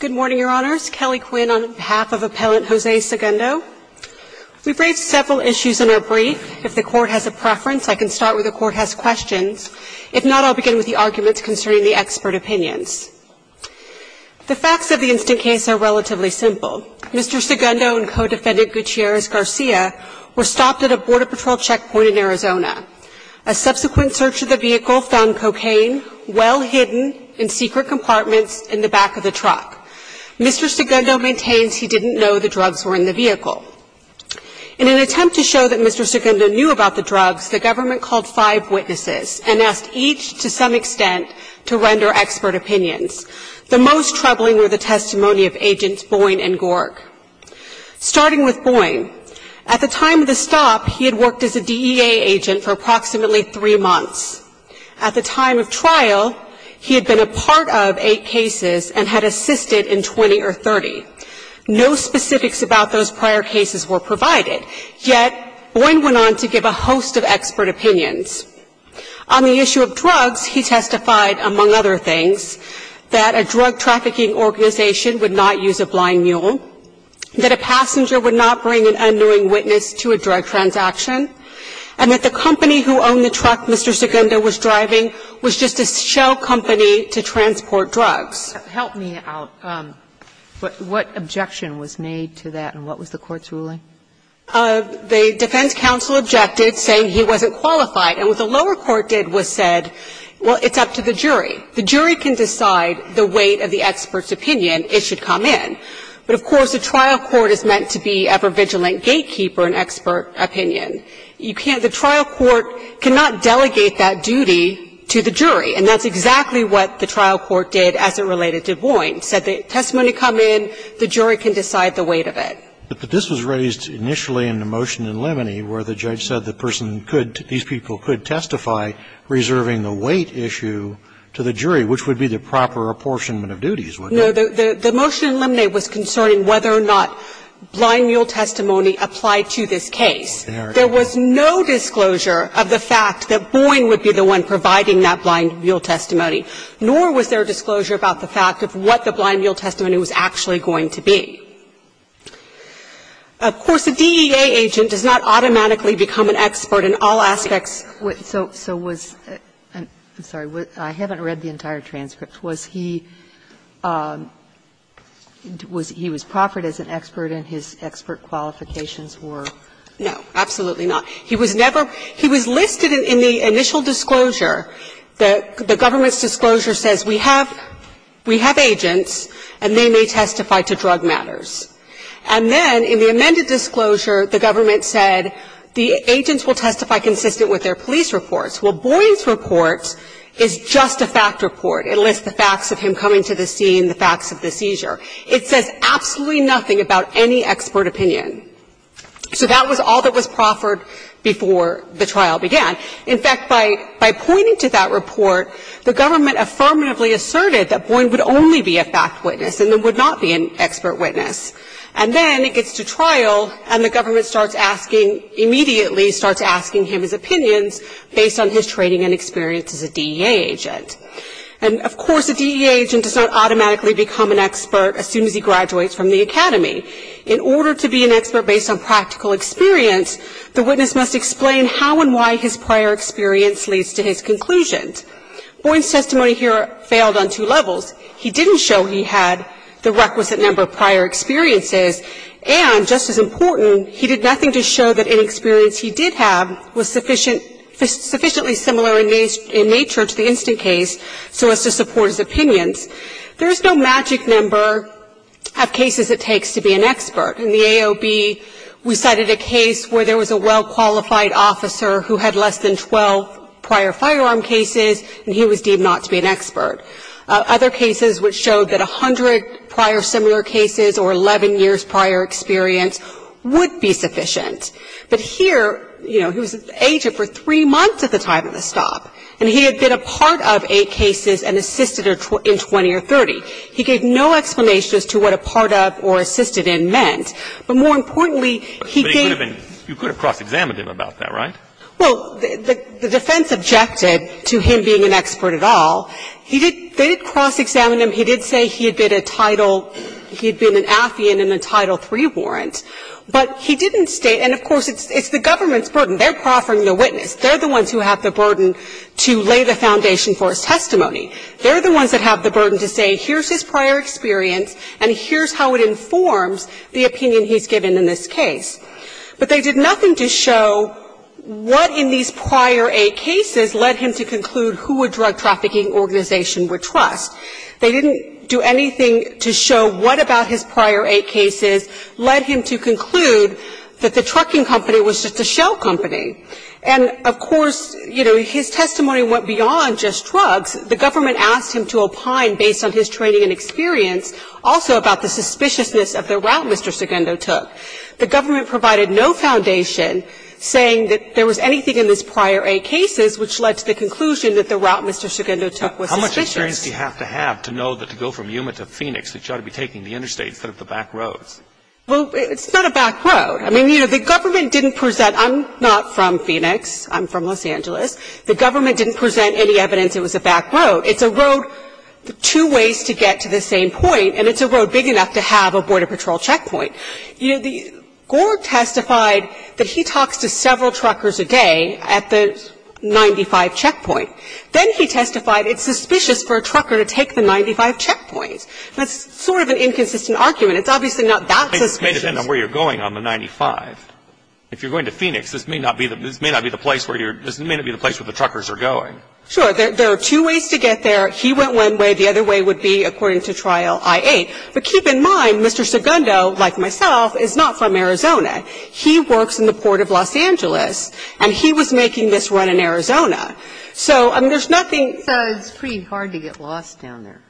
Good morning, Your Honors. Kelly Quinn on behalf of Appellant Jose Segundo. We've raised several issues in our brief. If the Court has a preference, I can start where the Court has questions. If not, I'll begin with the arguments concerning the expert opinions. The facts of the instant case are relatively simple. Mr. Segundo and co-defendant Gutierrez-Garcia were stopped at a Border Patrol checkpoint in Arizona. A subsequent search of the vehicle found cocaine well hidden in secret compartments in the back of the truck. Mr. Segundo maintains he didn't know the drugs were in the vehicle. In an attempt to show that Mr. Segundo knew about the drugs, the government called five witnesses and asked each to some extent to render expert opinions. The most troubling were the testimony of Agents Boyne and Gorg. Starting with Boyne, at the time of the stop, he had worked as a DEA agent for approximately three months. At the time of trial, he had been a part of eight cases and had assisted in 20 or 30. No specifics about those prior cases were provided, yet Boyne went on to give a host of expert opinions. On the issue of drugs, he testified, among other things, that a drug trafficking organization would not use a blind mule, that a passenger would not bring an unknowing witness to a drug transaction, and that the company who owned the truck Mr. Segundo was driving was just a shell company to transport drugs. Sotomayor, help me out. What objection was made to that and what was the court's ruling? The defense counsel objected, saying he wasn't qualified. And what the lower court did was said, well, it's up to the jury. The jury can decide the weight of the expert's opinion. It should come in. But, of course, the trial court is meant to be an ever-vigilant gatekeeper in expert opinion. You can't – the trial court cannot delegate that duty to the jury. And that's exactly what the trial court did as it related to Boyne. Said the testimony come in, the jury can decide the weight of it. But this was raised initially in the motion in Lemony where the judge said the person could – these people could testify reserving the weight issue to the jury, which would be the proper apportionment of duties, wouldn't it? No, the motion in Lemony was concerning whether or not blind mule testimony applied to this case. There was no disclosure of the fact that Boyne would be the one providing that blind mule testimony, nor was there disclosure about the fact of what the blind mule testimony was actually going to be. Of course, a DEA agent does not automatically become an expert in all aspects. So was – I'm sorry, I haven't read the entire transcript. Was he – was he was proffered as an expert and his expert qualifications were? No, absolutely not. He was never – he was listed in the initial disclosure. The government's disclosure says we have agents and they may testify to drug matters. And then in the amended disclosure, the government said the agents will testify consistent with their police reports. Well, Boyne's report is just a fact report. It lists the facts of him coming to the scene, the facts of the seizure. It says absolutely nothing about any expert opinion. So that was all that was proffered before the trial began. In fact, by pointing to that report, the government affirmatively asserted that Boyne would only be a fact witness and would not be an expert witness. And then it gets to trial and the government starts asking – immediately starts asking him his opinions based on his training and experience as a DEA agent. And of course, a DEA agent does not automatically become an expert as soon as he graduates from the academy. In order to be an expert based on practical experience, the witness must explain how and why his prior experience leads to his conclusions. Boyne's testimony here failed on two levels. He didn't show he had the requisite number of prior experiences. And just as important, he did nothing to show that any experience he did have was sufficient – sufficiently similar in nature to the instant case so as to support his opinions. There is no magic number of cases it takes to be an expert. In the AOB, we cited a case where there was a well-qualified officer who had less than 12 prior firearm cases, and he was deemed not to be an expert. Other cases which showed that 100 prior similar cases or 11 years prior experience would be sufficient. But here, you know, he was an agent for three months at the time of the stop. And he had been a part of eight cases and assisted in 20 or 30. He gave no explanation as to what a part of or assisted in meant. But more importantly, he gave – But he could have been – you could have cross-examined him about that, right? Well, the defense objected to him being an expert at all. He did – they did cross-examine him. He did say he had been a Title – he had been an affiant in a Title III warrant. But he didn't state – and of course, it's the government's burden. They're proffering the witness. They're the ones who have the burden to lay the foundation for his testimony. They're the ones that have the burden to say here's his prior experience and here's how it informs the opinion he's given in this case. But they did nothing to show what in these prior eight cases led him to conclude who a drug trafficking organization would trust. They didn't do anything to show what about his prior eight cases led him to conclude that the trucking company was just a shell company. And of course, you know, his testimony went beyond just drugs. The government asked him to opine based on his training and experience, also about the suspiciousness of the route Mr. Segundo took. The government provided no foundation saying that there was anything in his prior eight cases which led to the conclusion that the route Mr. Segundo took was suspicious. How much experience do you have to have to know that to go from Yuma to Phoenix that you ought to be taking the interstate instead of the back roads? Well, it's not a back road. I mean, you know, the government didn't present – I'm not from Phoenix. I'm from Los Angeles. The government didn't present any evidence it was a back road. It's a road two ways to get to the same point, and it's a road big enough to have a Border Patrol checkpoint. You know, Gord testified that he talks to several truckers a day at the 95 checkpoint. Then he testified it's suspicious for a trucker to take the 95 checkpoints. That's sort of an inconsistent argument. It's obviously not that suspicious. It may depend on where you're going on the 95. If you're going to Phoenix, this may not be the place where you're – this may not be the place where the truckers are going. Sure. There are two ways to get there. He went one way. The other way would be, according to trial, I-8. But keep in mind, Mr. Segundo, like myself, is not from Arizona. He works in the Port of Los Angeles, and he was making this run in Arizona. So, I mean, there's nothing – So it's pretty hard to get lost down there.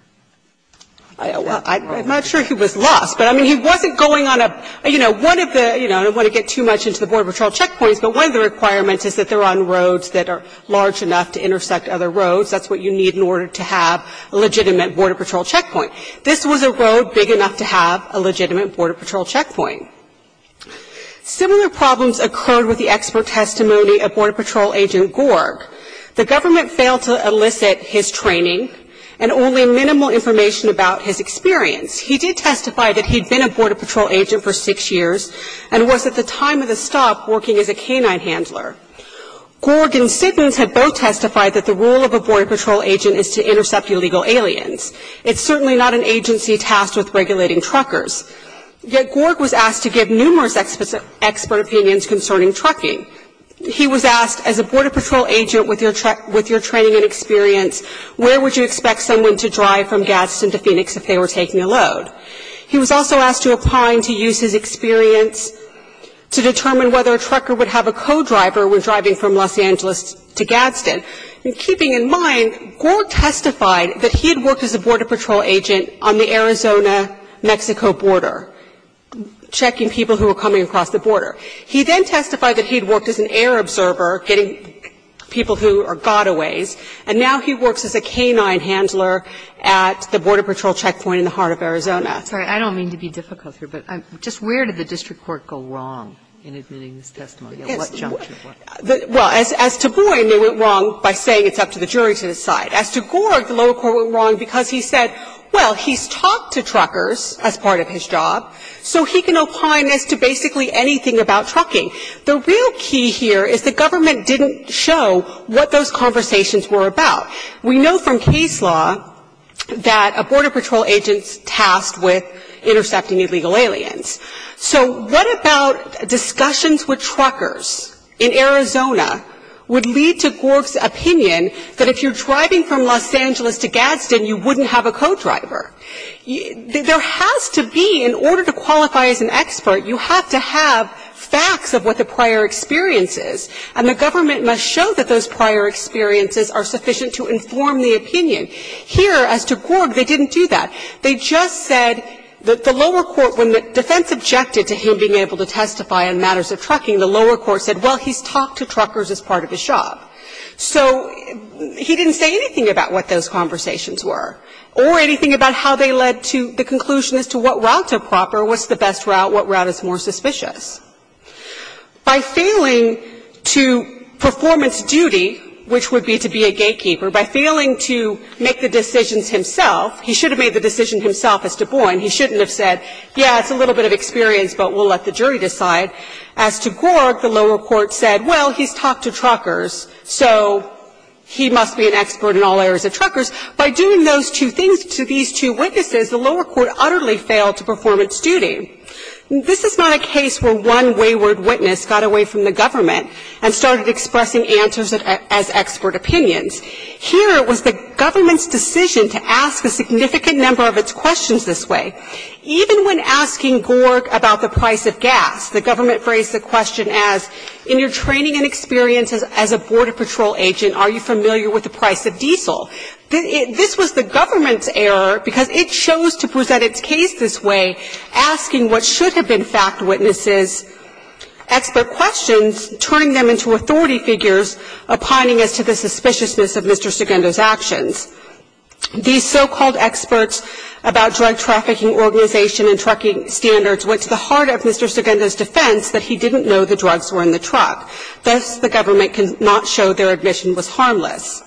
Well, I'm not sure he was lost. But, I mean, he wasn't going on a – you know, one of the – you know, I don't want to get too much into the Border Patrol checkpoints, but one of the requirements is that they're on roads that are large enough to intersect other roads. That's what you need in order to have a legitimate Border Patrol checkpoint. This was a road big enough to have a legitimate Border Patrol checkpoint. Similar problems occurred with the expert testimony of Border Patrol agent Gorg. The government failed to elicit his training and only minimal information about his experience. He did testify that he'd been a Border Patrol agent for six years and was, at the time of the stop, working as a canine handler. Gorg and Siddons had both testified that the role of a Border Patrol agent is to intercept illegal aliens. It's certainly not an agency tasked with regulating truckers. Yet Gorg was asked to give numerous expert opinions concerning trucking. He was asked, as a Border Patrol agent with your training and experience, where would you expect someone to drive from Gadsden to Phoenix if they were taking a load? He was also asked to opine to use his experience to determine whether a trucker would have And keeping in mind, Gorg testified that he had worked as a Border Patrol agent on the Arizona-Mexico border, checking people who were coming across the border. He then testified that he had worked as an air observer getting people who are gotaways, and now he works as a canine handler at the Border Patrol checkpoint in the heart of Arizona. Kagan. I'm sorry. I don't mean to be difficult here, but just where did the district court go wrong in admitting this testimony? At what juncture? Well, as to Boyd, they went wrong by saying it's up to the jury to decide. As to Gorg, the lower court went wrong because he said, well, he's talked to truckers as part of his job, so he can opine as to basically anything about trucking. The real key here is the government didn't show what those conversations were about. We know from case law that a Border Patrol agent is tasked with intercepting illegal aliens. So what about discussions with truckers in Arizona would lead to Gorg's opinion that if you're driving from Los Angeles to Gadsden, you wouldn't have a co-driver? There has to be, in order to qualify as an expert, you have to have facts of what the prior experience is, and the government must show that those prior experiences are sufficient to inform the opinion. Here, as to Gorg, they didn't do that. They just said that the lower court, when the defense objected to him being able to testify on matters of trucking, the lower court said, well, he's talked to truckers as part of his job. So he didn't say anything about what those conversations were or anything about how they led to the conclusion as to what route's a proper, what's the best route, what route is more suspicious. By failing to performance duty, which would be to be a gatekeeper, by failing to make the decisions himself, he should have made the decision himself as Du Bois, and he shouldn't have said, yeah, it's a little bit of experience, but we'll let the jury decide. As to Gorg, the lower court said, well, he's talked to truckers, so he must be an expert in all areas of truckers. By doing those two things to these two witnesses, the lower court utterly failed to performance duty. This is not a case where one wayward witness got away from the government and started expressing answers as expert opinions. Here, it was the government's decision to ask a significant number of its questions this way. Even when asking Gorg about the price of gas, the government phrased the question as, in your training and experience as a border patrol agent, are you familiar with the price of diesel? This was the government's error because it chose to present its case this way, asking what should have been fact witnesses' expert questions, turning them into authority figures, opining as to the suspiciousness of Mr. Segundo's actions. These so-called experts about drug trafficking organization and trucking standards went to the heart of Mr. Segundo's defense that he didn't know the drugs were in the truck. Thus, the government could not show their admission was harmless.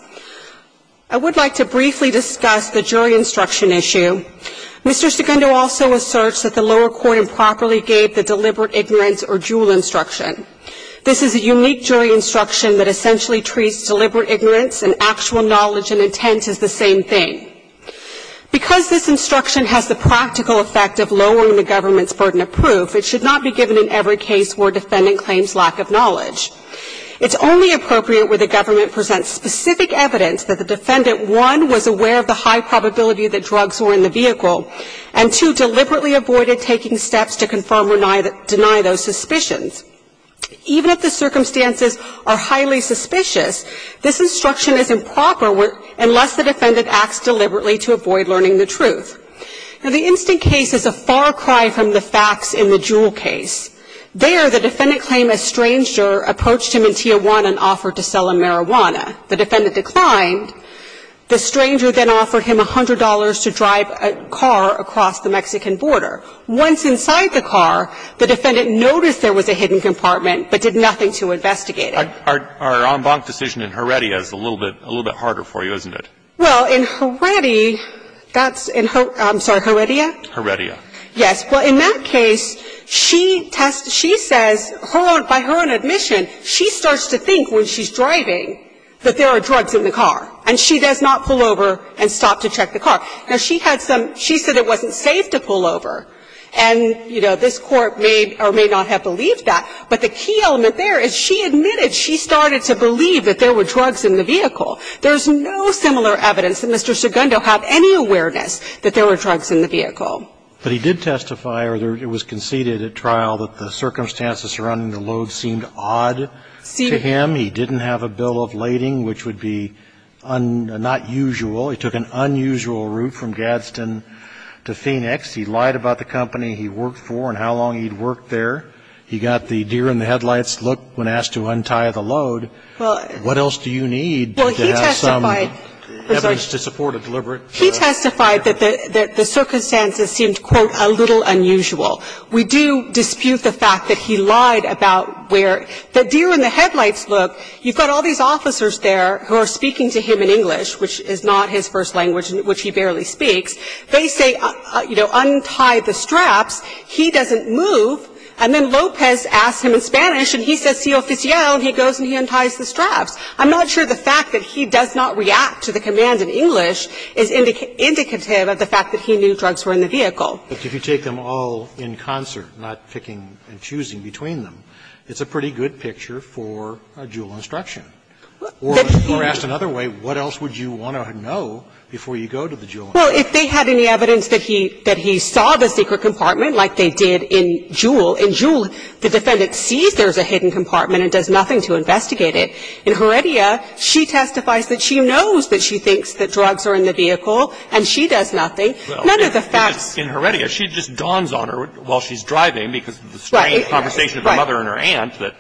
I would like to briefly discuss the jury instruction issue. Mr. Segundo also asserts that the lower court improperly gave the deliberate ignorance or jewel instruction. This is a unique jury instruction that essentially treats deliberate ignorance and actual knowledge and intent as the same thing. Because this instruction has the practical effect of lowering the government's burden of proof, it should not be given in every case where a defendant claims lack of knowledge. It's only appropriate where the government presents specific evidence that the defendant, one, was aware of the high probability that drugs were in the vehicle, and, two, deliberately avoided taking steps to confirm or deny those suspicions. Even if the circumstances are highly suspicious, this instruction is improper unless the defendant acts deliberately to avoid learning the truth. Now, the instant case is a far cry from the facts in the jewel case. There, the defendant claimed a stranger approached him in Tijuana and offered to sell him marijuana. The defendant declined. The stranger then offered him $100 to drive a car across the Mexican border. Once inside the car, the defendant noticed there was a hidden compartment, but did nothing to investigate it. Our en banc decision in Heredia is a little bit harder for you, isn't it? Well, in Heredia, that's in her – I'm sorry, Heredia? Heredia. Yes. Well, in that case, she says, by her own admission, she starts to think when she's driving that there are drugs in the car, and she does not pull over and stop to check the car. Now, she had some – she said it wasn't safe to pull over. And, you know, this Court may or may not have believed that. But the key element there is she admitted she started to believe that there were drugs in the vehicle. There's no similar evidence that Mr. Segundo had any awareness that there were drugs in the vehicle. But he did testify, or it was conceded at trial, that the circumstances surrounding the load seemed odd to him. He didn't have a bill of lading, which would be not usual. He took an unusual route from Gadsden to Phoenix. He lied about the company he worked for and how long he'd worked there. He got the deer in the headlights look when asked to untie the load. What else do you need to have some evidence to support a deliberate – He testified that the circumstances seemed, quote, a little unusual. We do dispute the fact that he lied about where – the deer in the headlights look. You've got all these officers there who are speaking to him in English, which is not his first language, which he barely speaks. They say, you know, untie the straps. He doesn't move. And then Lopez asks him in Spanish, and he says, si oficial, and he goes and he unties the straps. I'm not sure the fact that he does not react to the command in English is indicative of the fact that he knew drugs were in the vehicle. But if you take them all in concert, not picking and choosing between them, it's a pretty good picture for a dual instruction. Or asked another way, what else would you want to know before you go to the dual instruction? Well, if they had any evidence that he saw the secret compartment like they did in Juul, in Juul, the defendant sees there's a hidden compartment and does nothing to investigate it. In Heredia, she testifies that she knows that she thinks that drugs are in the vehicle and she does nothing. None of the facts – In Heredia, she just dawns on her while she's driving because of the strange conversation of the mother and her aunt that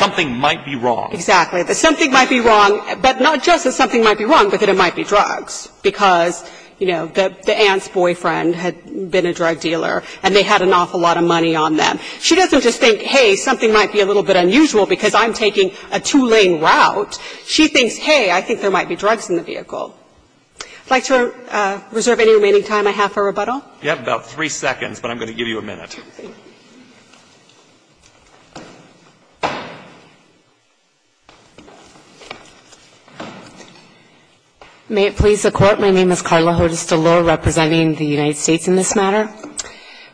something might be wrong. Exactly. That something might be wrong, but not just that something might be wrong, but that it might be drugs because, you know, the aunt's boyfriend had been a drug dealer and they had an awful lot of money on them. She doesn't just think, hey, something might be a little bit unusual because I'm taking a two-lane route. She thinks, hey, I think there might be drugs in the vehicle. I'd like to reserve any remaining time I have for rebuttal. You have about three seconds, but I'm going to give you a minute. May it please the Court, my name is Karla Hodes-DeLure, representing the United States in this matter.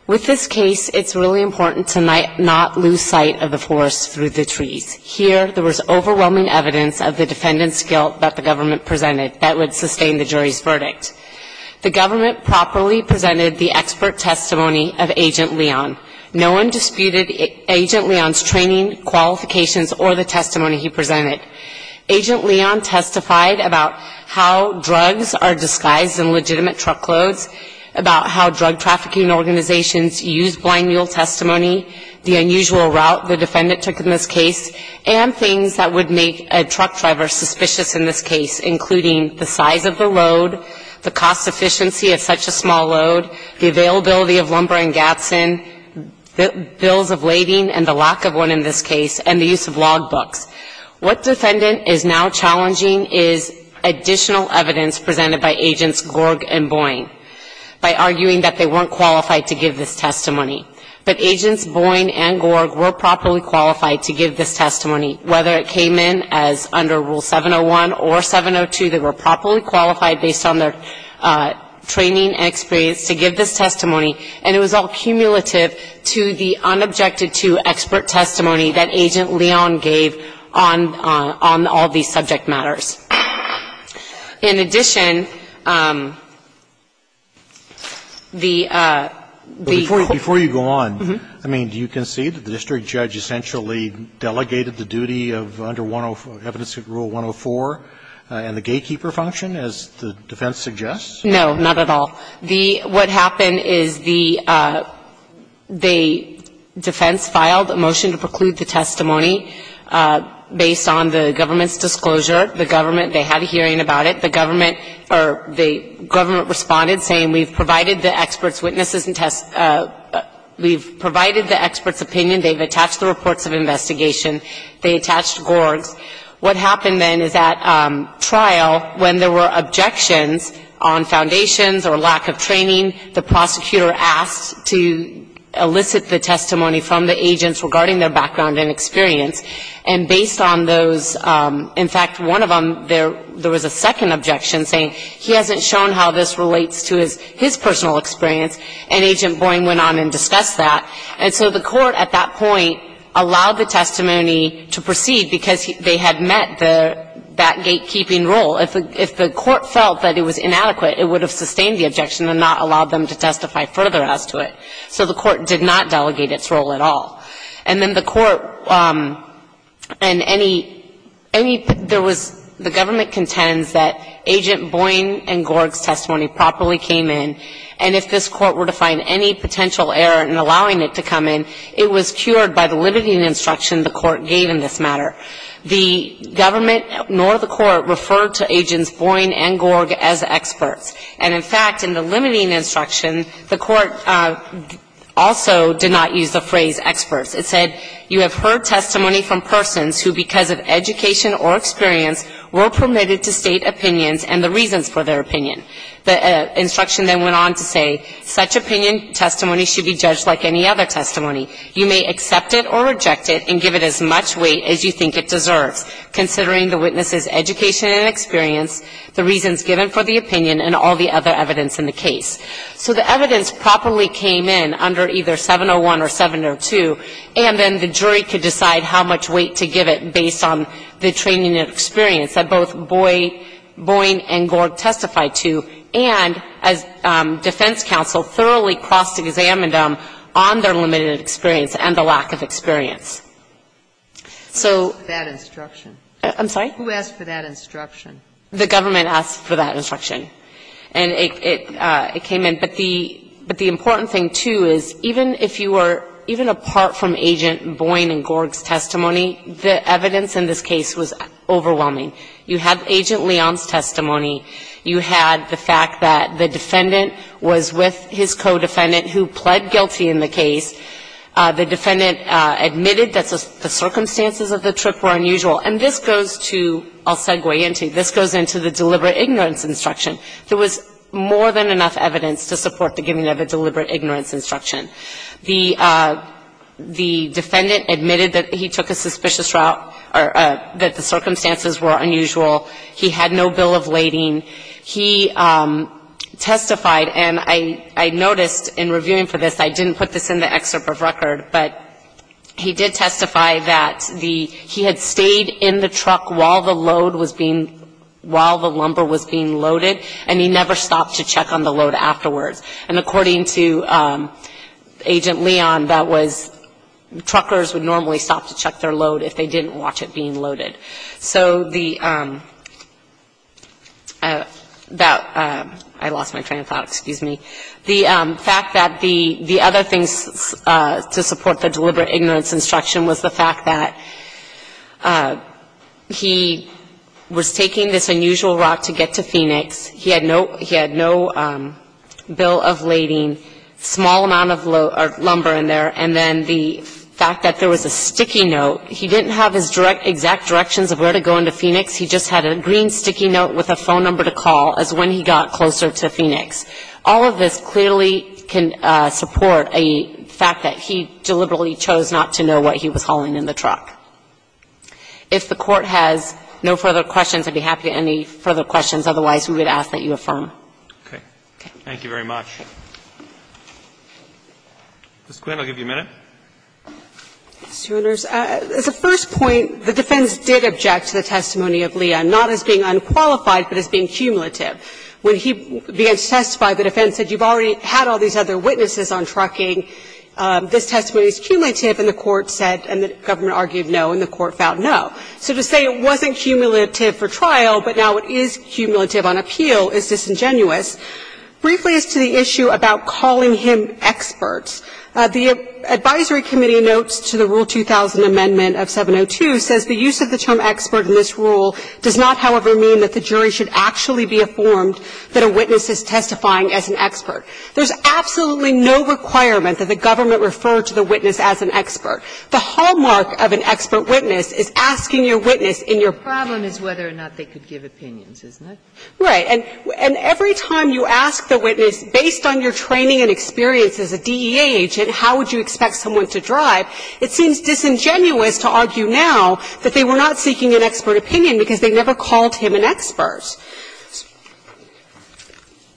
With this case, it's really important to not lose sight of the force through the trees. Here, there was overwhelming evidence of the defendant's guilt that the government presented that would sustain the jury's verdict. No one disputed Agent Leon's training, qualifications, or the testimony he presented. Agent Leon testified about how drugs are disguised in legitimate truckloads, about how drug trafficking organizations use blind mule testimony, the unusual route the defendant took in this case, and things that would make a truck driver suspicious in this case, including the size of the load, the cost efficiency of such a small load, the availability of lumber and Gatson, the bills of lading and the lack of one in this case, and the use of log books. What defendant is now challenging is additional evidence presented by Agents Gorg and Boyne by arguing that they weren't qualified to give this testimony. But Agents Boyne and Gorg were properly qualified to give this testimony, whether it came in as under Rule 701 or 702, they were properly qualified based on their training and experience to give this testimony, and it was all cumulative to the unobjected-to expert testimony that Agent Leon gave on all of these subject matters. In addition, the court ---- Roberts, before you go on, I mean, do you concede that the district judge essentially delegated the duty of under evidence of Rule 104 and the gatekeeper function, as the defense suggests? No, not at all. The ---- what happened is the defense filed a motion to preclude the testimony based on the government's disclosure. The government ---- they had a hearing about it. The government or the government responded saying, we've provided the expert's witnesses and test ---- we've provided the expert's opinion, they've attached the reports of investigation, they attached Gorg's. What happened then is that trial, when there were objections on foundations or lack of training, the prosecutor asked to elicit the testimony from the agents regarding their background and experience. And based on those ---- in fact, one of them, there was a second objection saying he hasn't shown how this relates to his personal experience, and Agent Boyne went on and discussed that. And so the court at that point allowed the testimony to proceed because they had met the ---- that gatekeeping role. If the court felt that it was inadequate, it would have sustained the objection and not allowed them to testify further as to it. So the court did not delegate its role at all. And then the court and any ---- any ---- there was ---- the government contends that Agent Boyne and Gorg's testimony properly came in, and if this court were to make a potential error in allowing it to come in, it was cured by the limiting instruction the court gave in this matter. The government nor the court referred to Agents Boyne and Gorg as experts. And in fact, in the limiting instruction, the court also did not use the phrase experts. It said you have heard testimony from persons who because of education or experience were permitted to state opinions and the reasons for their opinion. The instruction then went on to say, such opinion testimony should be judged like any other testimony. You may accept it or reject it and give it as much weight as you think it deserves considering the witness's education and experience, the reasons given for the opinion and all the other evidence in the case. So the evidence properly came in under either 701 or 702, and then the jury could decide how much weight to give it based on the training and experience that both Agents Boyne and Gorg testified to and as defense counsel thoroughly cross-examined them on their limited experience and the lack of experience. So that instruction. I'm sorry? Who asked for that instruction? The government asked for that instruction. And it came in. But the important thing, too, is even if you were even apart from Agent Boyne and Gorg's testimony, the evidence in this case was overwhelming. You have Agent Leon's testimony. You had the fact that the defendant was with his co-defendant who pled guilty in the case. The defendant admitted that the circumstances of the trip were unusual. And this goes to the deliberate ignorance instruction. There was more than enough evidence to support the giving of a deliberate ignorance instruction. The defendant admitted that he took a suspicious route or that the circumstances were unusual. He had no bill of lading. He testified, and I noticed in reviewing for this, I didn't put this in the excerpt of record, but he did testify that the he had stayed in the truck while the load was being while the lumber was being loaded, and he never stopped to check on the load afterwards. And according to Agent Leon, that was truckers would normally stop to check their load if they didn't watch it being loaded. So the – I lost my train of thought. Excuse me. The fact that the other things to support the deliberate ignorance instruction was the fact that he was taking this unusual route to get to Phoenix. He had no bill of lading, small amount of load or lumber in there, and then the fact that there was a sticky note. He didn't have his exact directions of where to go into Phoenix. He just had a green sticky note with a phone number to call as when he got closer to Phoenix. All of this clearly can support a fact that he deliberately chose not to know what he was hauling in the truck. If the Court has no further questions, I'd be happy to answer any further questions. Otherwise, we would ask that you affirm. Roberts. Thank you very much. Ms. Quinn, I'll give you a minute. As a first point, the defense did object to the testimony of Leon, not as being unqualified, but as being cumulative. When he began to testify, the defense said, you've already had all these other witnesses on trucking. This testimony is cumulative, and the Court said, and the government argued no, and the Court found no. So to say it wasn't cumulative for trial, but now it is cumulative on appeal is disingenuous. Briefly as to the issue about calling him experts, the advisory committee in New York notes to the Rule 2000 Amendment of 702 says the use of the term expert in this rule does not, however, mean that the jury should actually be informed that a witness is testifying as an expert. There's absolutely no requirement that the government refer to the witness as an expert. The hallmark of an expert witness is asking your witness in your practice. The problem is whether or not they could give opinions, isn't it? Right. And every time you ask the witness, based on your training and experience as a DEA agent, how would you expect someone to drive, it seems disingenuous to argue now that they were not seeking an expert opinion because they never called him an expert.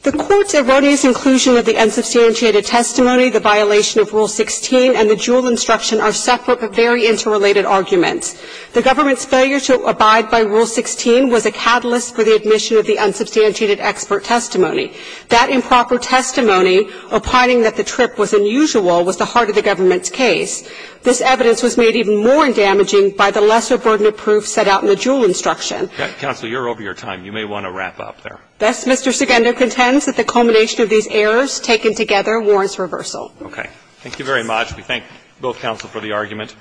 The Court's erroneous inclusion of the unsubstantiated testimony, the violation of Rule 16, and the Juul instruction are separate but very interrelated arguments. The government's failure to abide by Rule 16 was a catalyst for the admission of the unsubstantiated expert testimony. That improper testimony, opining that the trip was unusual, was the heart of the government's case. This evidence was made even more damaging by the lesser burden of proof set out in the Juul instruction. Counsel, you're over your time. You may want to wrap up there. Thus, Mr. Segundo contends that the culmination of these errors taken together warrants reversal. Okay. Thank you very much. We thank both counsel for the argument.